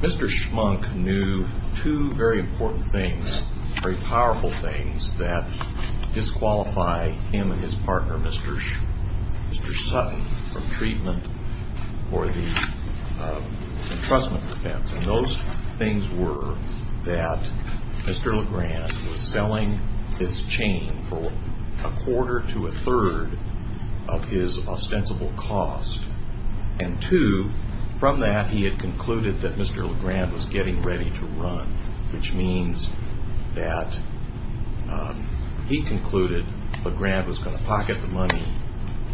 Mr. Schmunk knew two very important things, very powerful things that disqualify him and his partner, Mr. Sutton, from treatment for the entrustment defense. And those things were that Mr. LeGrand was selling his chain for a quarter to a third of his ostensible cost. And two, from that, he had concluded that Mr. LeGrand was getting ready to run, which means that he concluded LeGrand was going to pocket the money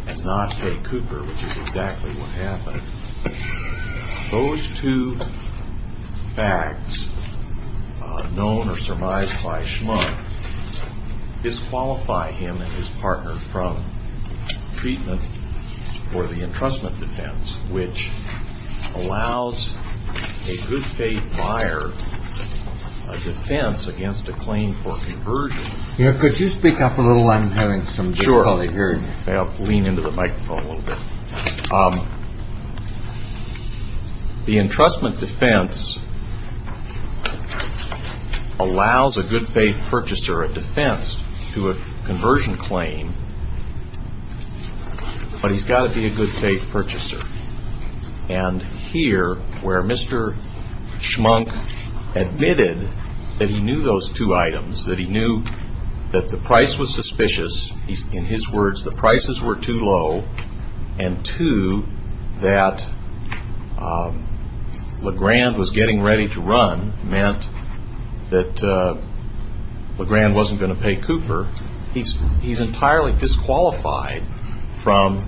and not pay Cooper, which is exactly what happened. Those two facts, known or surmised by Schmunk, disqualify him and his partner from treatment for the entrustment defense, which allows a good faith buyer a defense against a claim for conversion. Here, could you speak up a little? I'm having some difficulty hearing you. Sure. I'll lean into the microphone a little bit. The entrustment defense allows a good faith purchaser a defense to a conversion claim, but he's got to be a good faith purchaser. And here, where Mr. Schmunk admitted that he knew those two items, that he knew that the price was suspicious, in his words, the prices were too low, and two, that LeGrand was getting ready to run meant that LeGrand wasn't going to pay Cooper, he's entirely disqualified from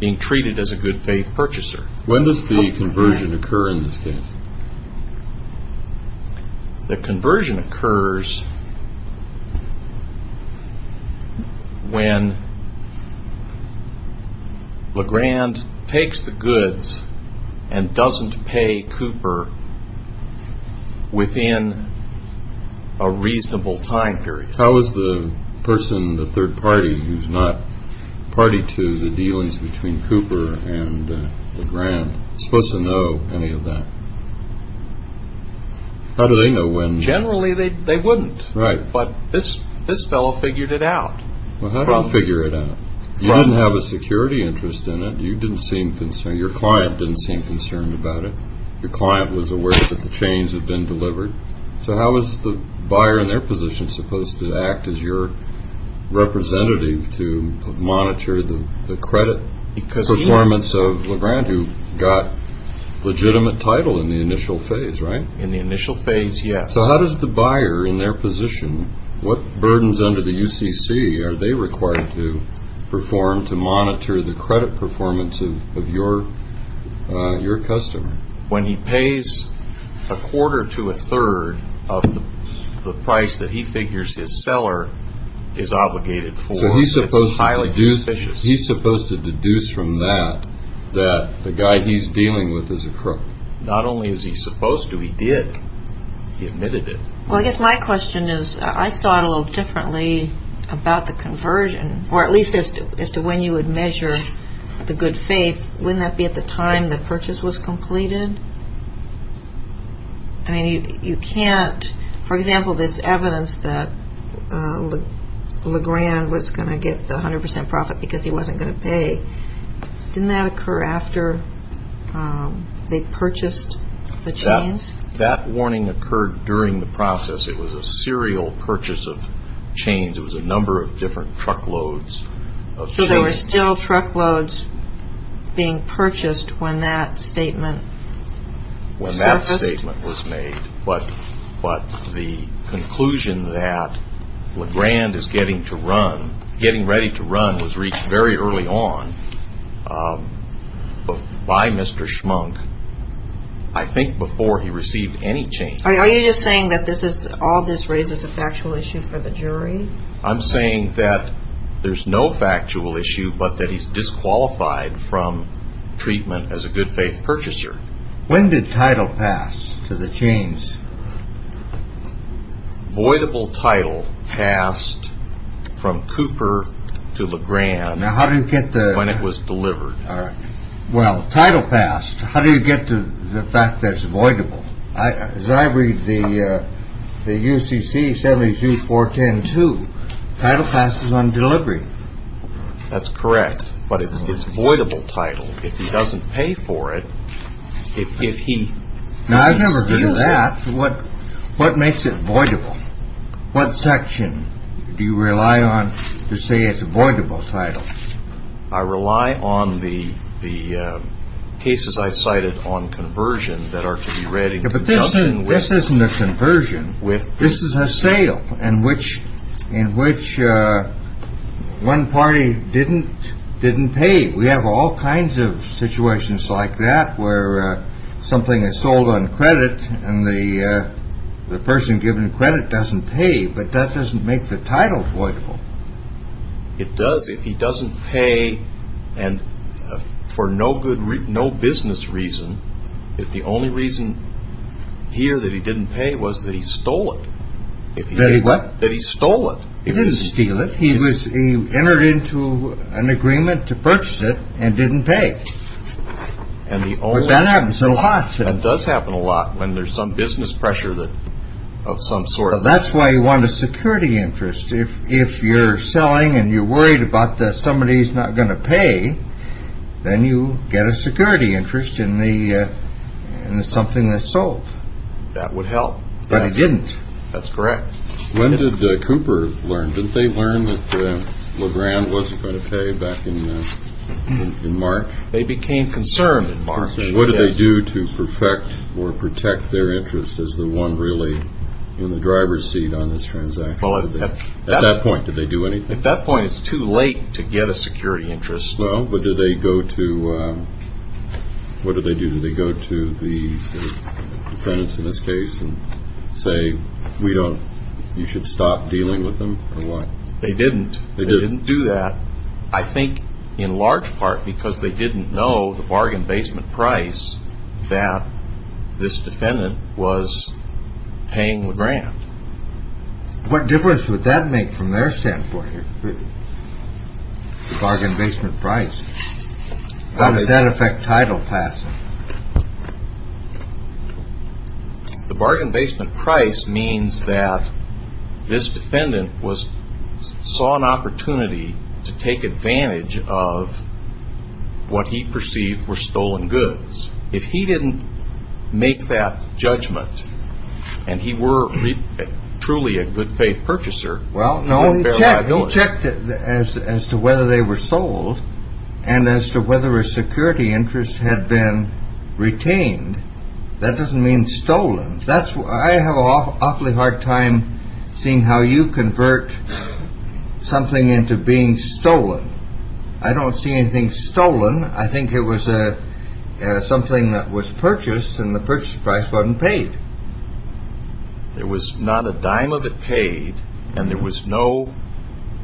being treated as a good faith purchaser. When does the conversion occur in this case? The conversion occurs when LeGrand takes the goods and doesn't pay Cooper within a reasonable time period. How is the person, the third party, who's not party to the dealings between Cooper and LeGrand, supposed to know any of that? How do they know when? Generally, they wouldn't, but this fellow figured it out. Well, how did he figure it out? You didn't have a security interest in it. You didn't seem concerned. Your client didn't seem concerned about it. Your client was aware that the chains had been delivered. So how is the buyer in their position supposed to act as your representative to monitor the credit performance of LeGrand, who got legitimate title in the initial phase, right? In the initial phase, yes. So how does the buyer in their position, what burdens under the UCC are they required to perform to monitor the credit performance of your customer? When he pays a quarter to a third of the price that he figures his seller is obligated for, it's highly suspicious. So he's supposed to deduce from that that the guy he's dealing with is a crook. Not only is he supposed to, he did. He admitted it. Well, I guess my question is, I saw it a little differently about the conversion, or at least as to when you would measure the good faith. Wouldn't that be at the time the purchase was completed? I mean, you can't, for example, there's evidence that LeGrand was going to get the 100% profit because he wasn't going to pay. Didn't that occur after they purchased the chains? That warning occurred during the process. It was a serial purchase of chains. It was a number of different truckloads of chains. So there were still truckloads being purchased when that statement surfaced? When that statement was made, but the conclusion that LeGrand is getting to run, getting ready to run was reached very early on by Mr. Schmunk. I think before he received any chains. Are you just saying that all this raises a factual issue for the jury? I'm saying that there's no factual issue, but that he's disqualified from treatment as a good faith purchaser. When did title pass to the chains? Voidable title passed from Cooper to LeGrand when it was delivered. Well, title passed. How do you get to the fact that it's voidable? As I read the UCC 724102, title passes on delivery. That's correct, but it's voidable title. If he doesn't pay for it, if he steals it. Now, I've never heard of that. What makes it voidable? What section do you rely on to say it's a voidable title? I rely on the cases I cited on conversion that are to be read. But this isn't a conversion. This is a sale in which one party didn't pay. We have all kinds of situations like that where something is sold on credit and the person given credit doesn't pay, but that doesn't make the title voidable. It does if he doesn't pay and for no business reason, if the only reason here that he didn't pay was that he stole it. That he what? That he stole it. He didn't steal it. He entered into an agreement to purchase it and didn't pay. But that happens so often. That does happen a lot when there's some business pressure of some sort. So that's why you want a security interest. If you're selling and you're worried about that somebody is not going to pay, then you get a security interest in something that's sold. That would help. But I didn't. That's correct. When did Cooper learn? Didn't they learn that LeGrand wasn't going to pay back in March? They became concerned in March. What did they do to perfect or protect their interest as the one really in the driver's seat on this transaction? At that point, did they do anything? At that point, it's too late to get a security interest. What did they do? Did they go to the defendants in this case and say you should stop dealing with them or what? They didn't. They didn't do that. I think in large part because they didn't know the bargain basement price that this defendant was paying LeGrand. What difference would that make from their standpoint? The bargain basement price. How does that affect title passing? The bargain basement price means that this defendant saw an opportunity to take advantage of what he perceived were stolen goods. If he didn't make that judgment and he were truly a good faith purchaser, he wouldn't bear liability. He checked as to whether they were sold and as to whether a security interest had been retained. That doesn't mean stolen. I have an awfully hard time seeing how you convert something into being stolen. I don't see anything stolen. I think it was something that was purchased and the purchase price wasn't paid. There was not a dime of it paid and there was no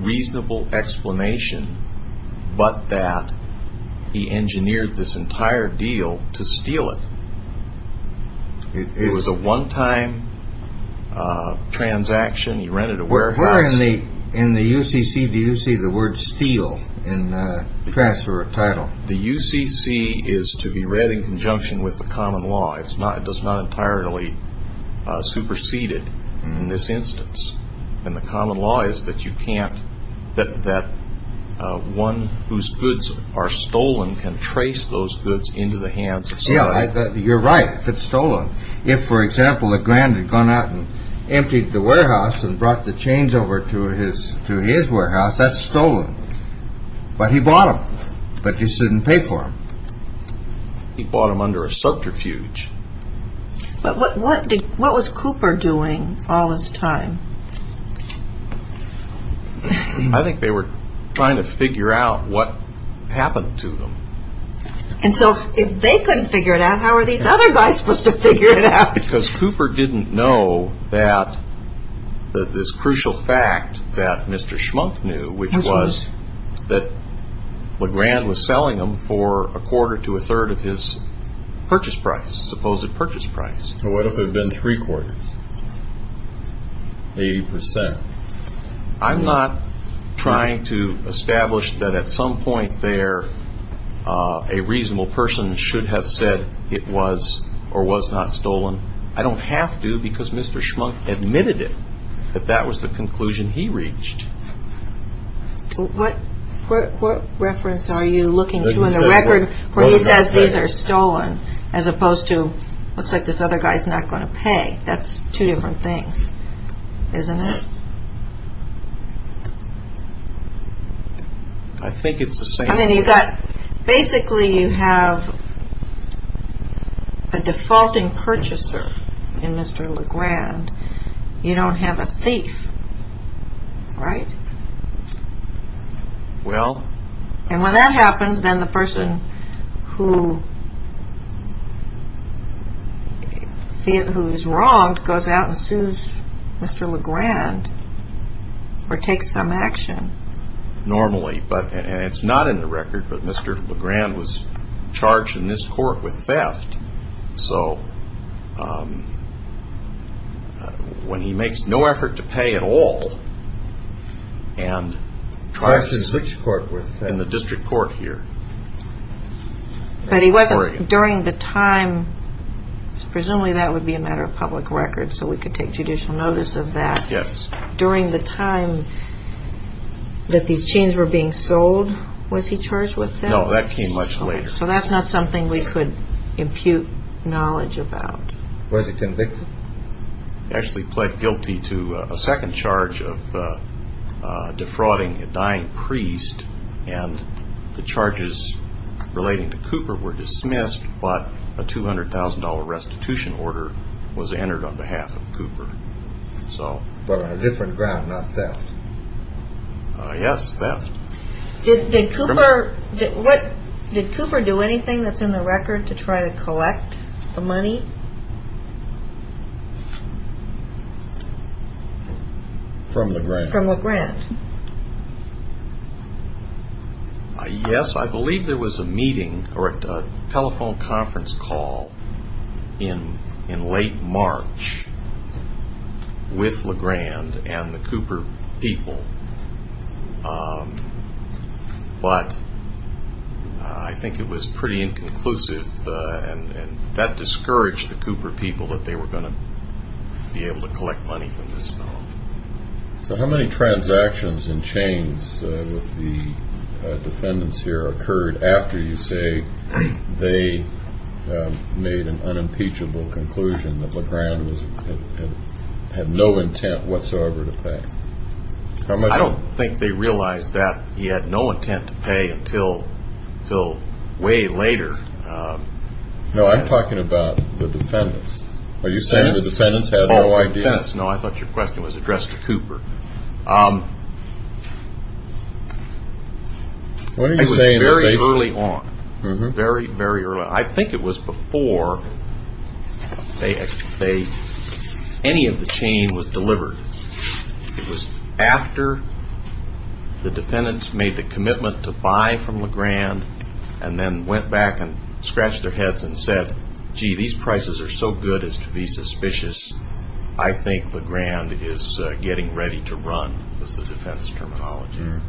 reasonable explanation but that he engineered this entire deal to steal it. It was a one-time transaction. He rented a warehouse. Where in the UCC do you see the word steal in the transfer of title? The UCC is to be read in conjunction with the common law. It does not entirely supersede it in this instance. And the common law is that one whose goods are stolen can trace those goods into the hands of somebody. You're right if it's stolen. If, for example, a grand had gone out and emptied the warehouse and brought the chains over to his warehouse, that's stolen. But he bought them. But you shouldn't pay for them. He bought them under a subterfuge. But what was Cooper doing all this time? I think they were trying to figure out what happened to them. And so if they couldn't figure it out, how are these other guys supposed to figure it out? Because Cooper didn't know that this crucial fact that Mr. Schmunk knew, which was that Legrand was selling them for a quarter to a third of his purchase price, supposed purchase price. So what if it had been three quarters, 80 percent? I'm not trying to establish that at some point there a reasonable person should have said it was or was not stolen. I don't have to because Mr. Schmunk admitted it, that that was the conclusion he reached. What reference are you looking to in the record where he says these are stolen as opposed to looks like this other guy's not going to pay? That's two different things, isn't it? I think it's the same thing. Basically you have a defaulting purchaser in Mr. Legrand. You don't have a thief, right? Well... And when that happens, then the person who is wronged goes out and sues Mr. Legrand or takes some action. Normally, and it's not in the record, but Mr. Legrand was charged in this court with theft. So when he makes no effort to pay at all and tries to switch court within the district court here in Oregon... But he wasn't during the time... Presumably that would be a matter of public record so we could take judicial notice of that. Yes. During the time that these chains were being sold, was he charged with theft? No, that came much later. So that's not something we could impute knowledge about. Was he convicted? Actually pled guilty to a second charge of defrauding a dying priest. And the charges relating to Cooper were dismissed, but a $200,000 restitution order was entered on behalf of Cooper. But on a different ground, not theft. Yes, theft. Did Cooper do anything that's in the record to try to collect the money? From Legrand. From Legrand. Yes, I believe there was a meeting or a telephone conference call in late March with Legrand and the Cooper people. But I think it was pretty inconclusive, and that discouraged the Cooper people that they were going to be able to collect money from this fellow. So how many transactions and chains with the defendants here occurred after you say they made an unimpeachable conclusion that Legrand had no intent whatsoever to pay? I don't think they realized that he had no intent to pay until way later. No, I'm talking about the defendants. Are you saying the defendants had no idea? The defendants, no, I thought your question was addressed to Cooper. It was very early on, very, very early on. I think it was before any of the chain was delivered. It was after the defendants made the commitment to buy from Legrand and then went back and scratched their heads and said, gee, these prices are so good as to be suspicious. I think Legrand is getting ready to run, was the defense terminology.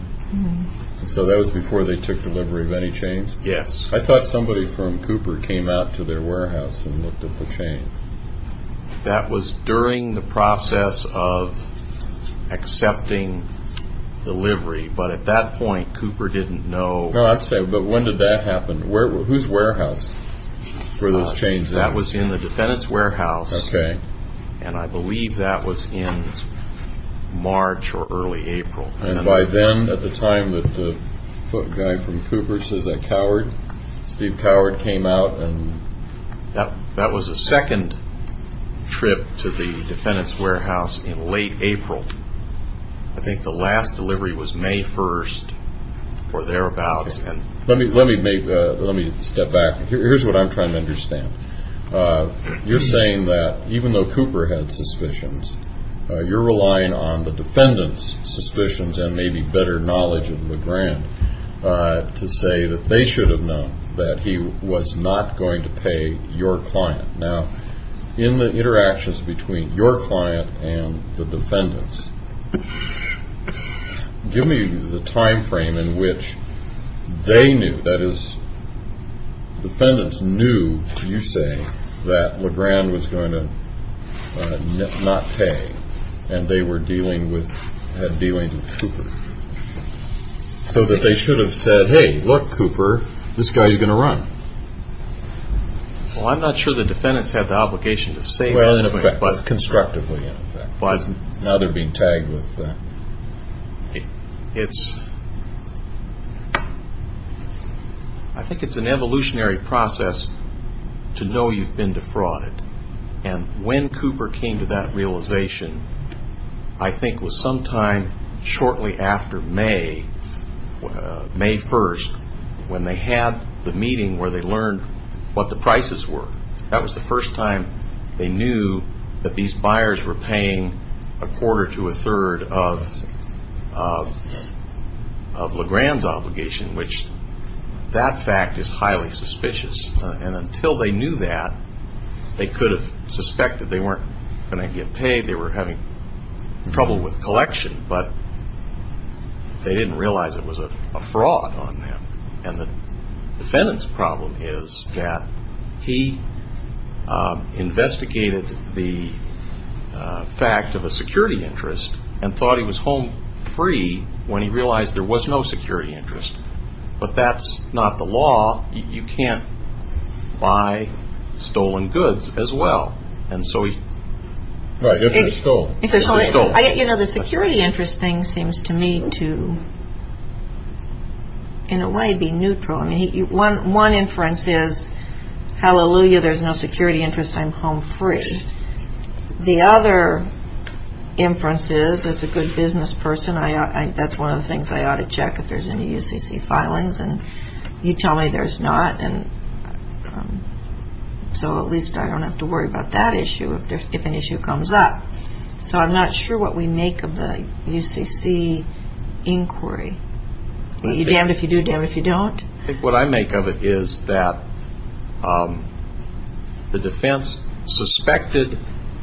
So that was before they took delivery of any chains? Yes. I thought somebody from Cooper came out to their warehouse and looked at the chains. That was during the process of accepting delivery. But at that point, Cooper didn't know. But when did that happen? Whose warehouse were those chains in? That was in the defendant's warehouse, and I believe that was in March or early April. And by then, at the time that the foot guy from Cooper says that Steve Coward came out? That was the second trip to the defendant's warehouse in late April. I think the last delivery was May 1st or thereabouts. Let me step back. Here's what I'm trying to understand. You're saying that even though Cooper had suspicions, you're relying on the defendant's suspicions and maybe better knowledge of Legrand to say that they should have known that he was not going to pay your client. Now, in the interactions between your client and the defendant's, give me the time frame in which they knew, that is, the defendant's knew, you say, that Legrand was going to not pay and they were dealing with Cooper, so that they should have said, hey, look, Cooper, this guy's going to run. Well, I'm not sure the defendant's had the obligation to say that. Constructively, in effect. Now they're being tagged with that. I think it's an evolutionary process to know you've been defrauded. And when Cooper came to that realization, I think it was sometime shortly after May, May 1st, when they had the meeting where they learned what the prices were. That was the first time they knew that these buyers were paying a quarter to a third of Legrand's obligation, which that fact is highly suspicious. And until they knew that, they could have suspected they weren't going to get paid, they were having trouble with collection, but they didn't realize it was a fraud on them. And the defendant's problem is that he investigated the fact of a security interest and thought he was home free when he realized there was no security interest. But that's not the law. You can't buy stolen goods as well. Right, if they're stolen. You know, the security interest thing seems to me to, in a way, be neutral. One inference is, hallelujah, there's no security interest, I'm home free. The other inference is, as a good business person, that's one of the things I ought to check, if there's any UCC filings, and you tell me there's not. So at least I don't have to worry about that issue if an issue comes up. So I'm not sure what we make of the UCC inquiry. You're damned if you do, damned if you don't. I think what I make of it is that the defense suspected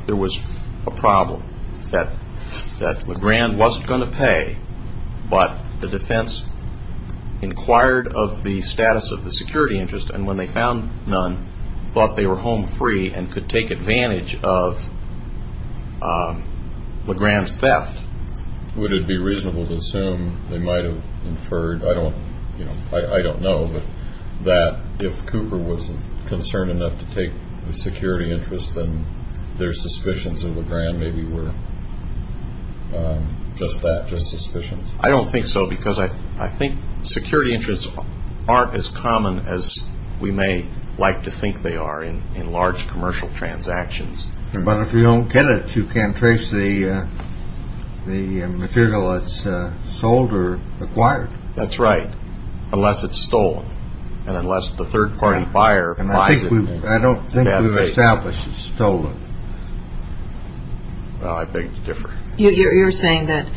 there was a problem, that LeGrand wasn't going to pay, but the defense inquired of the status of the security interest, and when they found none, thought they were home free and could take advantage of LeGrand's theft. Would it be reasonable to assume they might have inferred, I don't know, but that if Cooper was concerned enough to take the security interest, then their suspicions of LeGrand maybe were just that, just suspicions? I don't think so, because I think security interests aren't as common as we may like to think they are in large commercial transactions. But if you don't get it, you can't trace the material that's sold or acquired. That's right, unless it's stolen, and unless the third-party buyer buys it. I don't think we've established it's stolen. Well, I beg to differ. You're saying that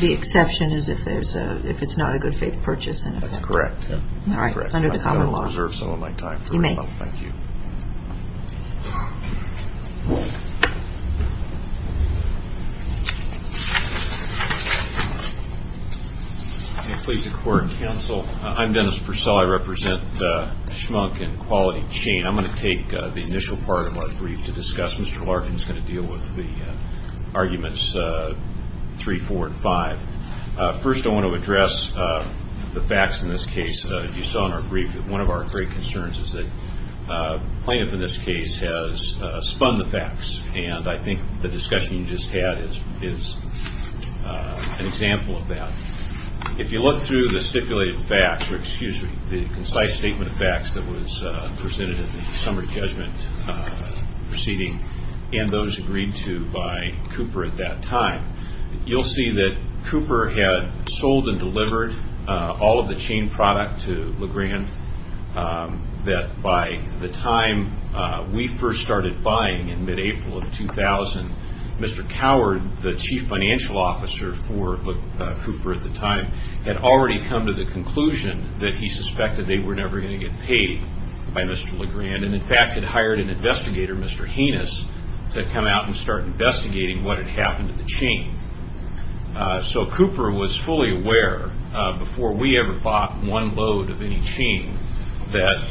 the exception is if it's not a good faith purchase? That's correct. All right, under the common law. I've got to reserve some of my time. You may. Well, thank you. May it please the court and counsel, I'm Dennis Purcell. I represent Schmunk and Quality Chain. I'm going to take the initial part of our brief to discuss. Mr. Larkin is going to deal with the arguments 3, 4, and 5. First, I want to address the facts in this case. You saw in our brief that one of our great concerns is that Plaintiff, in this case, has spun the facts, and I think the discussion you just had is an example of that. If you look through the stipulated facts, or excuse me, the concise statement of facts that was presented in the summary judgment proceeding, and those agreed to by Cooper at that time, you'll see that Cooper had sold and delivered all of the chain product to LeGrand, that by the time we first started buying in mid-April of 2000, Mr. Coward, the chief financial officer for Cooper at the time, had already come to the conclusion that he suspected they were never going to get paid by Mr. LeGrand, and in fact had hired an investigator, Mr. Heinous, to come out and start investigating what had happened to the chain. So Cooper was fully aware, before we ever bought one load of any chain, that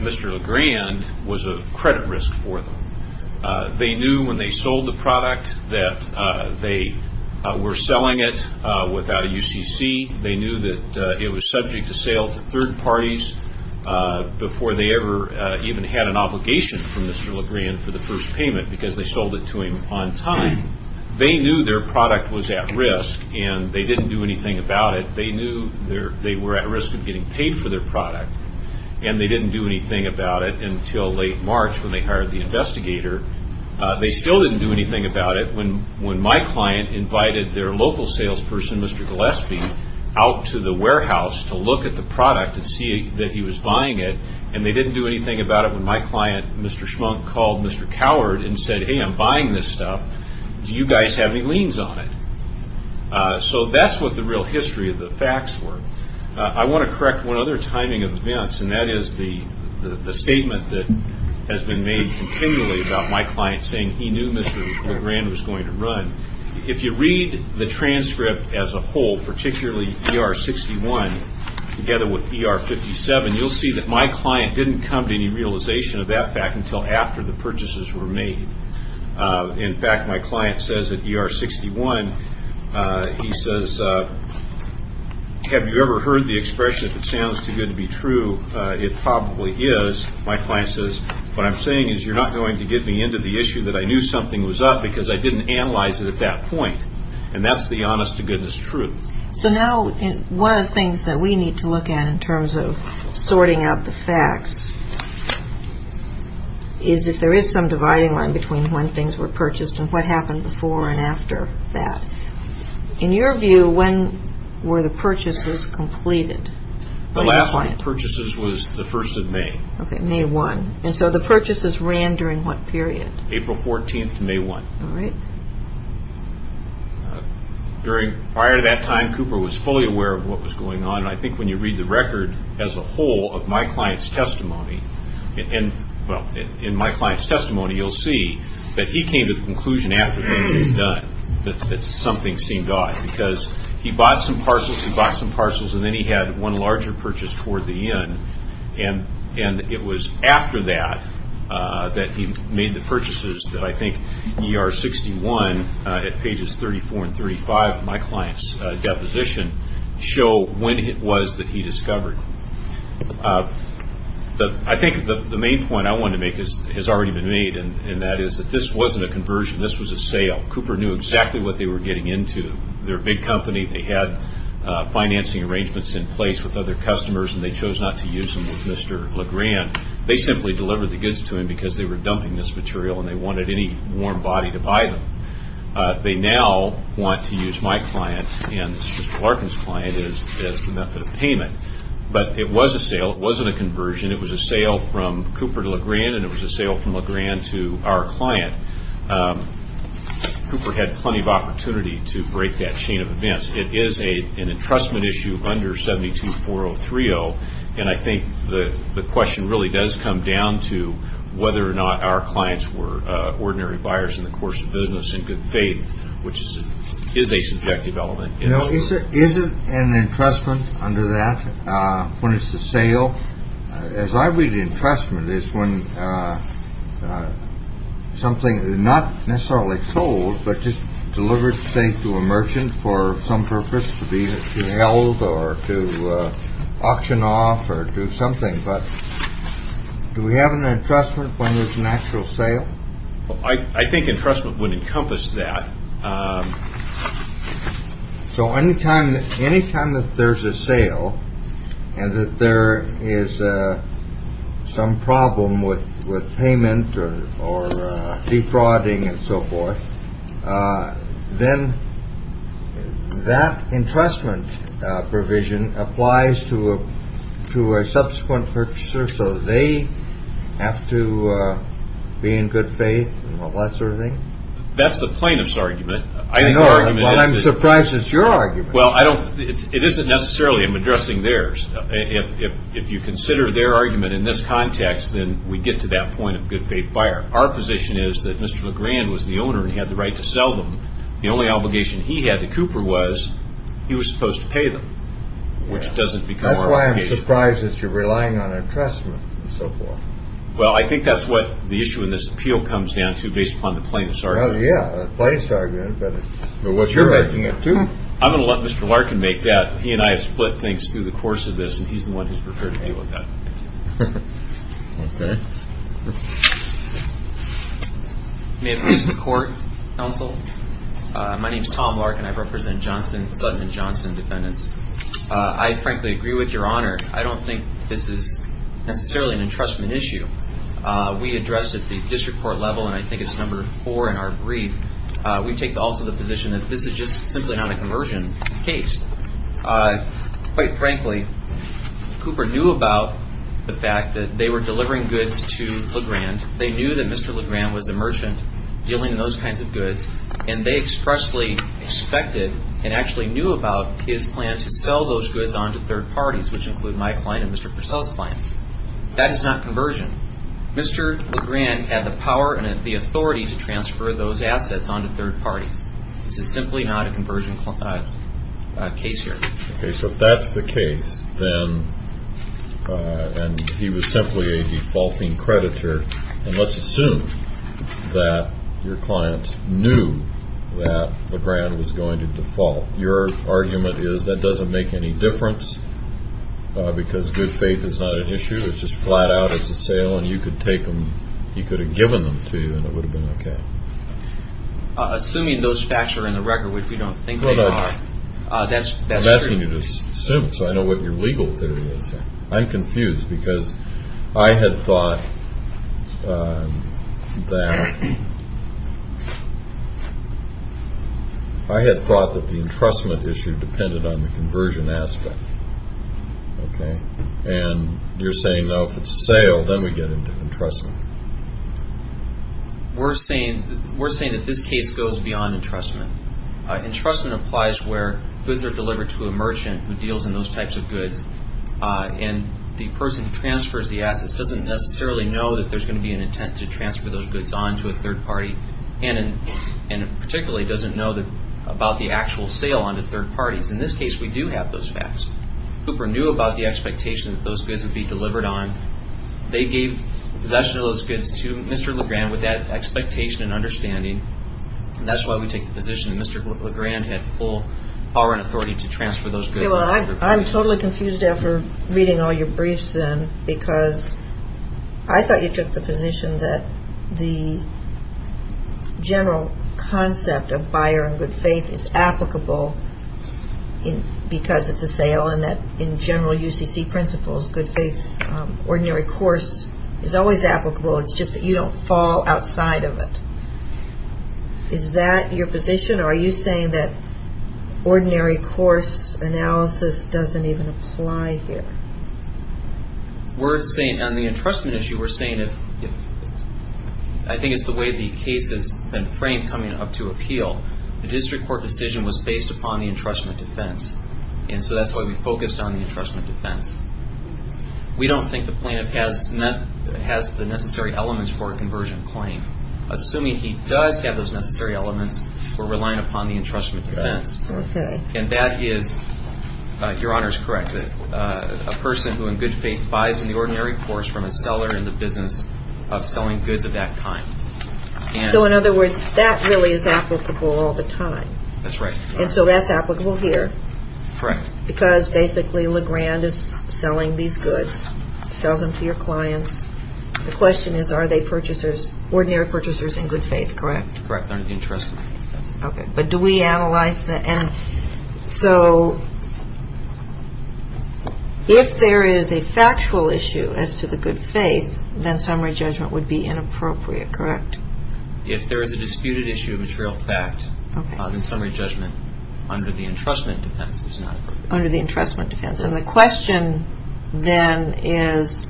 Mr. LeGrand was a credit risk for them. They knew when they sold the product that they were selling it without a UCC. They knew that it was subject to sale to third parties before they ever even had an obligation from Mr. LeGrand for the first payment, because they sold it to him on time. They knew their product was at risk, and they didn't do anything about it. They knew they were at risk of getting paid for their product, and they didn't do anything about it until late March when they hired the investigator. They still didn't do anything about it when my client invited their local salesperson, Mr. Gillespie, out to the warehouse to look at the product and see that he was buying it, and they didn't do anything about it when my client, Mr. Schmunk, called Mr. Coward and said, Hey, I'm buying this stuff. Do you guys have any liens on it? So that's what the real history of the facts were. I want to correct one other timing of events, and that is the statement that has been made continually about my client saying he knew Mr. LeGrand was going to run. If you read the transcript as a whole, particularly ER-61 together with ER-57, you'll see that my client didn't come to any realization of that fact until after the purchases were made. In fact, my client says at ER-61, he says, Have you ever heard the expression, if it sounds too good to be true, it probably is. My client says, What I'm saying is you're not going to get me into the issue that I knew something was up because I didn't analyze it at that point, and that's the honest-to-goodness truth. So now one of the things that we need to look at in terms of sorting out the facts is if there is some dividing line between when things were purchased and what happened before and after that. In your view, when were the purchases completed? The last of the purchases was the 1st of May. Okay, May 1, and so the purchases ran during what period? April 14 to May 1. All right. Prior to that time, Cooper was fully aware of what was going on, and I think when you read the record as a whole of my client's testimony, well, in my client's testimony you'll see that he came to the conclusion after things were done that something seemed odd because he bought some parcels, he bought some parcels, and then he had one larger purchase toward the end, and it was after that that he made the purchases that I think ER-61 at pages 34 and 35 of my client's deposition show when it was that he discovered. I think the main point I want to make has already been made, and that is that this wasn't a conversion. This was a sale. Cooper knew exactly what they were getting into. They're a big company. They had financing arrangements in place with other customers, and they chose not to use them with Mr. LeGrand. They simply delivered the goods to him because they were dumping this material, and they wanted any warm body to buy them. They now want to use my client and Mr. Larkin's client as the method of payment, but it was a sale. It wasn't a conversion. It was a sale from Cooper to LeGrand, and it was a sale from LeGrand to our client. Cooper had plenty of opportunity to break that chain of events. It is an entrustment issue under 72-4030, and I think the question really does come down to whether or not our clients were ordinary buyers in the course of business in good faith, which is a subjective element. Is it an entrustment under that when it's a sale? As I read entrustment, it's when something is not necessarily sold, but just delivered, say, to a merchant for some purpose, to be held or to auction off or do something, but do we have an entrustment when there's an actual sale? I think entrustment would encompass that. So anytime that there's a sale and that there is some problem with payment or defrauding and so forth, then that entrustment provision applies to a subsequent purchaser, so they have to be in good faith and all that sort of thing? That's the plaintiff's argument. Well, I'm surprised it's your argument. It isn't necessarily. I'm addressing theirs. If you consider their argument in this context, then we get to that point of good faith buyer. Our position is that Mr. LeGrand was the owner and he had the right to sell them. The only obligation he had to Cooper was he was supposed to pay them, which doesn't become our obligation. I'm surprised that you're relying on entrustment and so forth. Well, I think that's what the issue in this appeal comes down to, based upon the plaintiff's argument. Well, yeah, the plaintiff's argument, but what you're making it to. I'm going to let Mr. Larkin make that. He and I have split things through the course of this, and he's the one who's preferred to deal with that. Okay. May it please the court, counsel? My name is Tom Larkin. I represent Sudman Johnson Defendants. I frankly agree with Your Honor. I don't think this is necessarily an entrustment issue. We addressed it at the district court level, and I think it's number four in our brief. We take also the position that this is just simply not a conversion case. Quite frankly, Cooper knew about the fact that they were delivering goods to LeGrand. They knew that Mr. LeGrand was a merchant dealing in those kinds of goods, and they expressly expected and actually knew about his plan to sell those goods on to third parties, which include my client and Mr. Purcell's clients. That is not conversion. Mr. LeGrand had the power and the authority to transfer those assets on to third parties. This is simply not a conversion case here. Okay, so if that's the case, then, and he was simply a defaulting creditor, and let's assume that your client knew that LeGrand was going to default. Your argument is that doesn't make any difference because good faith is not an issue. It's just flat out it's a sale, and you could have given them to you, and it would have been okay. Assuming those facts are in the record, which we don't think they are, that's true. I'm asking you to assume it so I know what your legal theory is. Okay, I'm confused because I had thought that the entrustment issue depended on the conversion aspect. And you're saying, no, if it's a sale, then we get into entrustment. We're saying that this case goes beyond entrustment. Entrustment applies where goods are delivered to a merchant who deals in those types of goods, and the person who transfers the assets doesn't necessarily know that there's going to be an intent to transfer those goods on to a third party, and particularly doesn't know about the actual sale on to third parties. In this case, we do have those facts. Cooper knew about the expectation that those goods would be delivered on. They gave possession of those goods to Mr. LeGrand with that expectation and understanding, and that's why we take the position that Mr. LeGrand had full power and authority to transfer those goods. I'm totally confused after reading all your briefs, then, because I thought you took the position that the general concept of buyer and good faith is applicable because it's a sale, and that in general UCC principles, good faith, ordinary course, is always applicable. It's just that you don't fall outside of it. Is that your position, or are you saying that ordinary course analysis doesn't even apply here? On the entrustment issue, we're saying, I think it's the way the case has been framed coming up to appeal, the district court decision was based upon the entrustment defense, and so that's why we focused on the entrustment defense. We don't think the plaintiff has the necessary elements for a conversion claim. Assuming he does have those necessary elements, we're relying upon the entrustment defense, and that is, Your Honor is correct, a person who in good faith buys in the ordinary course from a seller in the business of selling goods of that kind. So in other words, that really is applicable all the time. That's right. And so that's applicable here. Correct. Because basically Legrand is selling these goods, sells them to your clients. The question is, are they purchasers, ordinary purchasers in good faith, correct? Correct. They're in the entrustment defense. Okay. But do we analyze the, and so if there is a factual issue as to the good faith, then summary judgment would be inappropriate, correct? If there is a disputed issue of material fact, then summary judgment under the entrustment defense is not appropriate. Under the entrustment defense. And the question then is,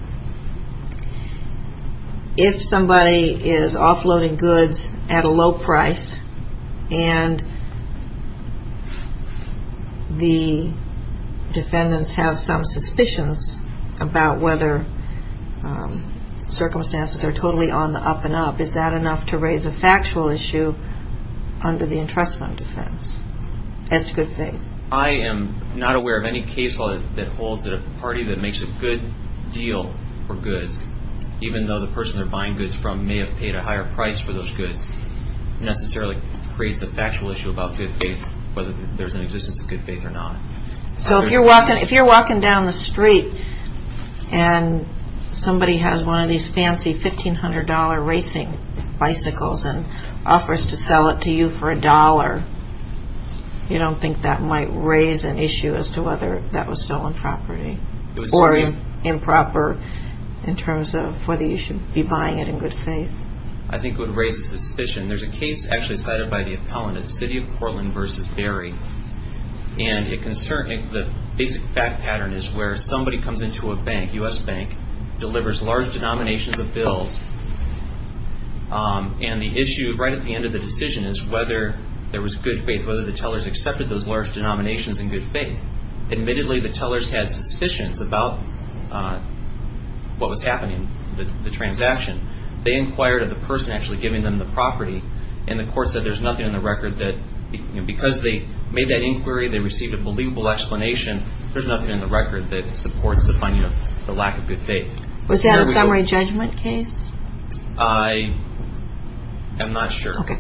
if somebody is offloading goods at a low price and the defendants have some suspicions about whether circumstances are totally on the up and up, is that enough to raise a factual issue under the entrustment defense as to good faith? I am not aware of any case law that holds that a party that makes a good deal for goods, even though the person they're buying goods from may have paid a higher price for those goods, necessarily creates a factual issue about good faith, whether there's an existence of good faith or not. So if you're walking down the street and somebody has one of these fancy $1,500 racing bicycles and offers to sell it to you for a dollar, you don't think that might raise an issue as to whether that was stolen property or improper in terms of whether you should be buying it in good faith? I think it would raise a suspicion. There's a case actually cited by the appellant, the City of Portland v. Berry, and the basic fact pattern is where somebody comes into a bank, U.S. bank, delivers large denominations of bills, and the issue right at the end of the decision is whether there was good faith, whether the tellers accepted those large denominations in good faith. Admittedly, the tellers had suspicions about what was happening, the transaction. They inquired of the person actually giving them the property, and the court said there's nothing in the record that, because they made that inquiry, they received a believable explanation, there's nothing in the record that supports the finding of the lack of good faith. Was that a summary judgment case? I am not sure. Okay.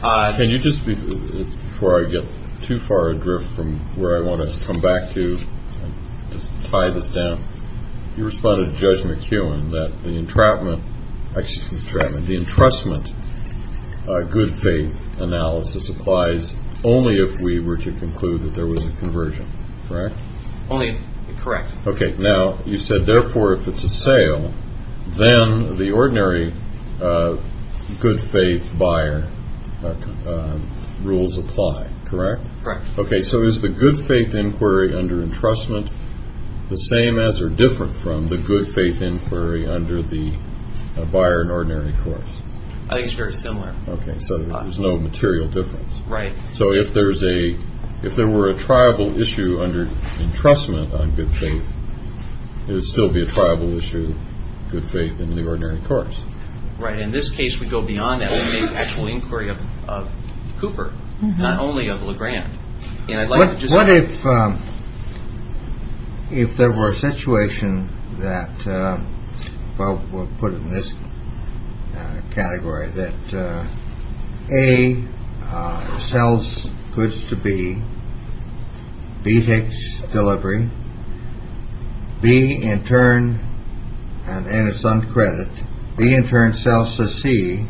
Can you just, before I get too far adrift from where I want to come back to and just tie this down, you responded to Judge McEwen that the entrustment good faith analysis applies only if we were to conclude that there was a conversion, correct? Only if it's correct. Okay. Now, you said, therefore, if it's a sale, then the ordinary good faith buyer rules apply, correct? Correct. Okay. So is the good faith inquiry under entrustment the same as or different from the good faith inquiry under the buyer in ordinary courts? I think it's very similar. Okay. So there's no material difference. Right. So if there were a tribal issue under entrustment on good faith, it would still be a tribal issue, good faith in the ordinary courts. Right. In this case, we go beyond that. We make actual inquiry of Cooper, not only of LeGrand. What if there were a situation that, well, we'll put it in this category, that A sells goods to B, B takes delivery, B in turn, and it's on credit, B in turn sells to C,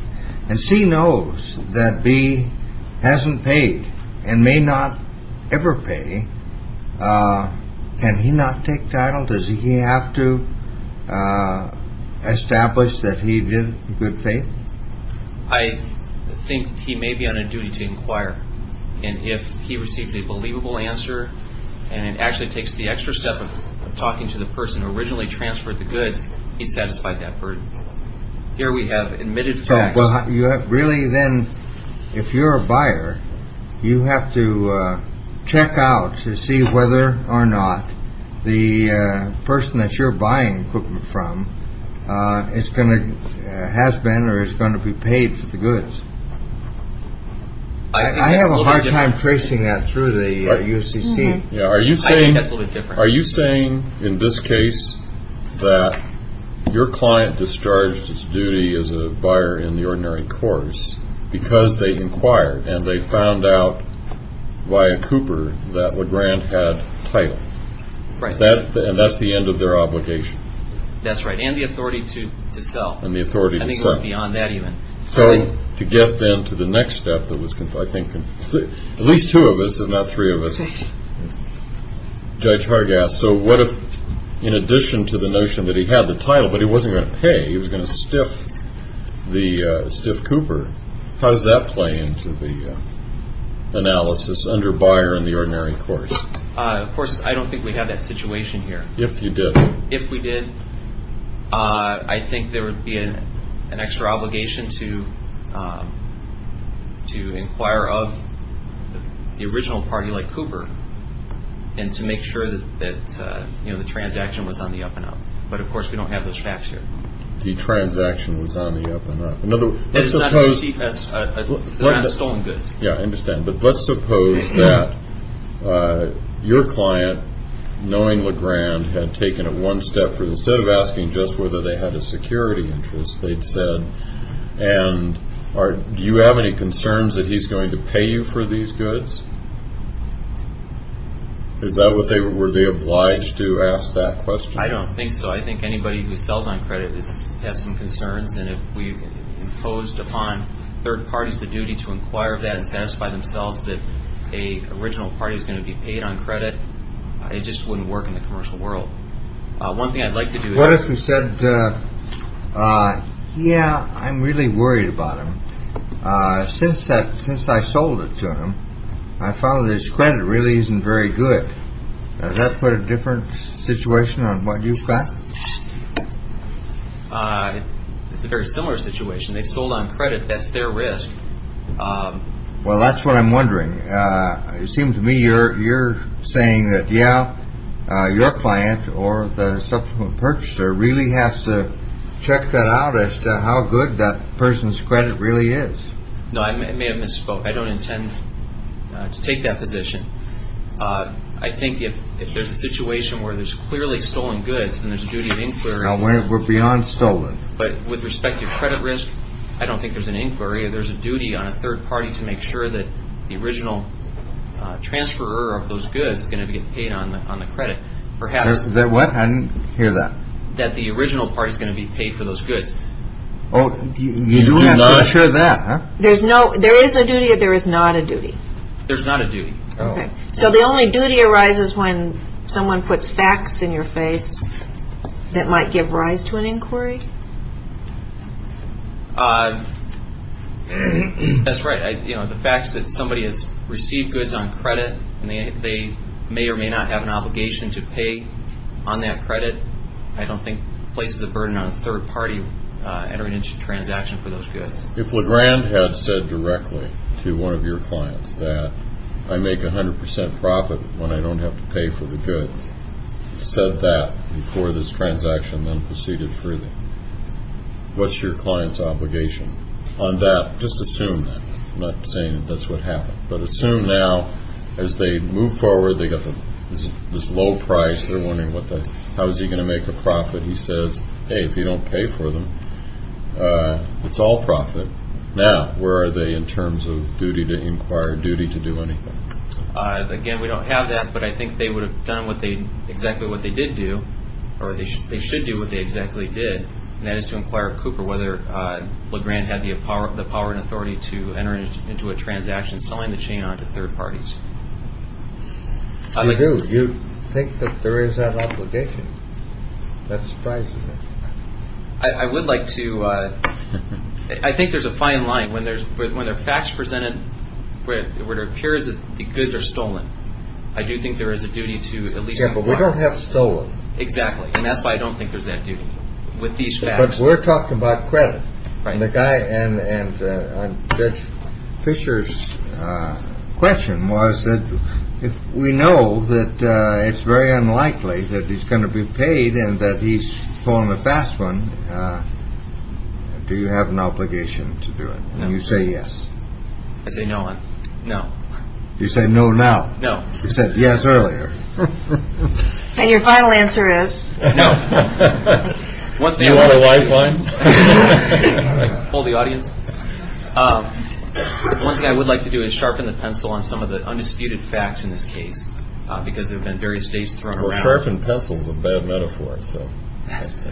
and C knows that B hasn't paid and may not ever pay. Can he not take title? Does he have to establish that he did good faith? I think he may be on a duty to inquire. And if he receives a believable answer and it actually takes the extra step of talking to the person who originally transferred the goods, he's satisfied that burden. Here we have admitted facts. Really, then, if you're a buyer, you have to check out to see whether or not the person that you're buying equipment from has been or is going to be paid for the goods. I have a hard time tracing that through the UCC. Are you saying, in this case, that your client discharged its duty as a buyer in the ordinary course because they inquired and they found out via Cooper that LeGrand had title? Right. And that's the end of their obligation? That's right. And the authority to sell. And the authority to sell. I think it goes beyond that even. So to get, then, to the next step that was, I think, at least two of us, if not three of us. Judge Hargass, so what if, in addition to the notion that he had the title but he wasn't going to pay, he was going to stiff Cooper? How does that play into the analysis under buyer in the ordinary course? Of course, I don't think we have that situation here. If you did. If we did. I think there would be an extra obligation to inquire of the original party, like Cooper, and to make sure that the transaction was on the up-and-up. But, of course, we don't have those facts here. The transaction was on the up-and-up. In other words, let's suppose. It's not as cheap as stolen goods. Yeah, I understand. But let's suppose that your client, knowing LeGrand, had taken it one step further. Instead of asking just whether they had a security interest, they'd said, and do you have any concerns that he's going to pay you for these goods? Is that what they were? Were they obliged to ask that question? I don't think so. I think anybody who sells on credit has some concerns. And if we imposed upon third parties the duty to inquire of that and satisfy themselves that an original party is going to be paid on credit, it just wouldn't work in the commercial world. One thing I'd like to do is. What if we said, yeah, I'm really worried about him. Since I sold it to him, I found that his credit really isn't very good. Does that put a different situation on what you've got? It's a very similar situation. They sold on credit. That's their risk. Well, that's what I'm wondering. It seems to me you're saying that, yeah, your client or the subsequent purchaser really has to check that out as to how good that person's credit really is. No, I may have misspoke. I don't intend to take that position. I think if there's a situation where there's clearly stolen goods, then there's a duty of inquiry. Now, we're beyond stolen. But with respect to credit risk, I don't think there's an inquiry. There's a duty on a third party to make sure that the original transfer of those goods is going to get paid on the credit. Perhaps. What? I didn't hear that. That the original party is going to be paid for those goods. Oh, you do have to ensure that. There is a duty or there is not a duty. There's not a duty. So the only duty arises when someone puts facts in your face that might give rise to an inquiry? That's right. The fact that somebody has received goods on credit and they may or may not have an obligation to pay on that credit, I don't think places a burden on a third party entering into a transaction for those goods. If LeGrand had said directly to one of your clients that, I make 100 percent profit when I don't have to pay for the goods, said that before this transaction then proceeded further, what's your client's obligation on that? Just assume that. I'm not saying that's what happened. But assume now as they move forward, they've got this low price. They're wondering how is he going to make a profit. But he says, hey, if you don't pay for them, it's all profit. Now, where are they in terms of duty to inquire, duty to do anything? Again, we don't have that. But I think they would have done exactly what they did do, or they should do what they exactly did, and that is to inquire of Cooper whether LeGrand had the power and authority to enter into a transaction selling the chain on to third parties. You do. You think that there is that obligation. That surprises me. I would like to. I think there's a fine line. When there are facts presented where it appears that the goods are stolen, I do think there is a duty to at least inquire. Yeah, but we don't have stolen. Exactly. And that's why I don't think there's that duty with these facts. But we're talking about credit. Right. The guy and Judge Fisher's question was that if we know that it's very unlikely that he's going to be paid and that he's pulling the fast one, do you have an obligation to do it? No. And you say yes. I say no. No. You say no now. No. You said yes earlier. And your final answer is? No. Do you want a lifeline? Pull the audience. One thing I would like to do is sharpen the pencil on some of the undisputed facts in this case because there have been various states thrown around. Well, sharpened pencil is a bad metaphor.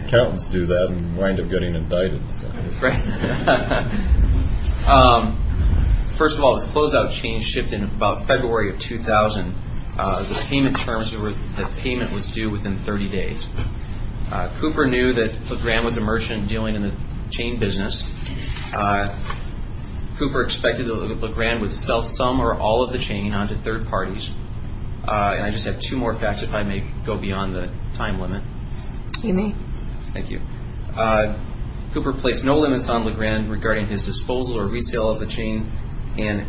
Accountants do that and wind up getting indicted. Right. First of all, this closeout change shipped in about February of 2000. The payment was due within 30 days. Cooper knew that Legrand was a merchant dealing in the chain business. Cooper expected that Legrand would sell some or all of the chain onto third parties. And I just have two more facts if I may go beyond the time limit. You may. Thank you. Cooper placed no limits on Legrand regarding his disposal or resale of the chain. And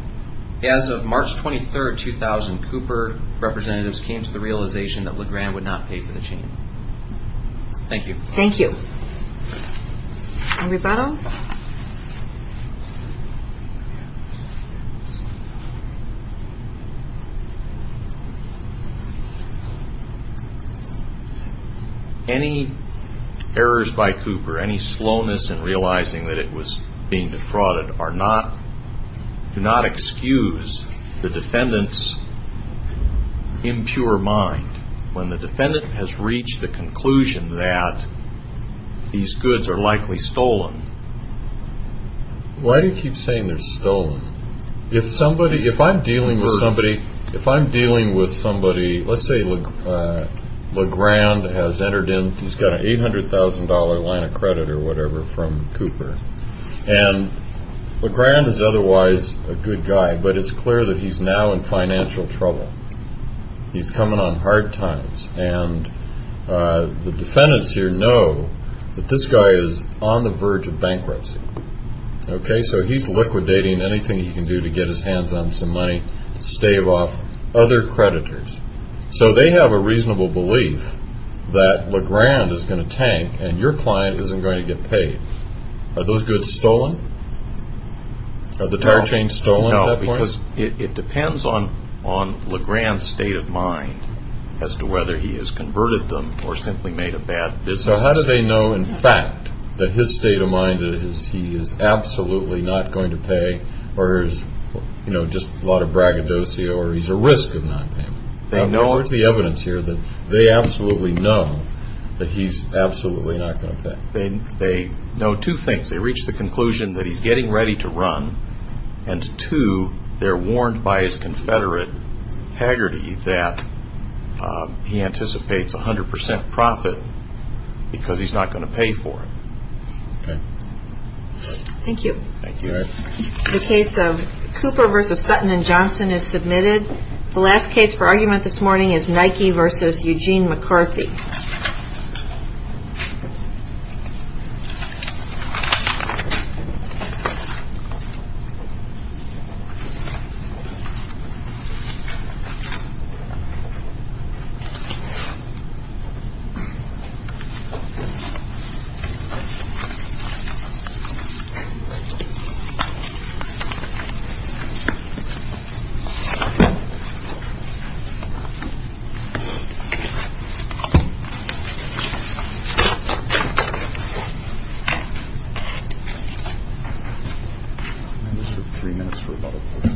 as of March 23rd, 2000, Cooper representatives came to the realization that Legrand would not pay for the chain. Thank you. Thank you. Roberto? Roberto? Any errors by Cooper, any slowness in realizing that it was being defrauded, do not excuse the defendant's impure mind. When the defendant has reached the conclusion that these goods are likely stolen. Why do you keep saying they're stolen? If somebody, if I'm dealing with somebody, if I'm dealing with somebody, let's say Legrand has entered in, he's got an $800,000 line of credit or whatever from Cooper. And Legrand is otherwise a good guy, but it's clear that he's now in financial trouble. He's coming on hard times. And the defendants here know that this guy is on the verge of bankruptcy. Okay? So he's liquidating anything he can do to get his hands on some money to stave off other creditors. So they have a reasonable belief that Legrand is going to tank and your client isn't going to get paid. Are those goods stolen? Are the tire chains stolen at that point? It depends on Legrand's state of mind as to whether he has converted them or simply made a bad business decision. So how do they know in fact that his state of mind that he is absolutely not going to pay or there's just a lot of braggadocio or he's at risk of not paying? They know it. What's the evidence here that they absolutely know that he's absolutely not going to pay? They know two things. They reach the conclusion that he's getting ready to run, and two, they're warned by his confederate, Haggerty, that he anticipates 100% profit because he's not going to pay for it. Okay. Thank you. Thank you. The case of Cooper v. Sutton & Johnson is submitted. The last case for argument this morning is Nike v. Eugene McCarthy.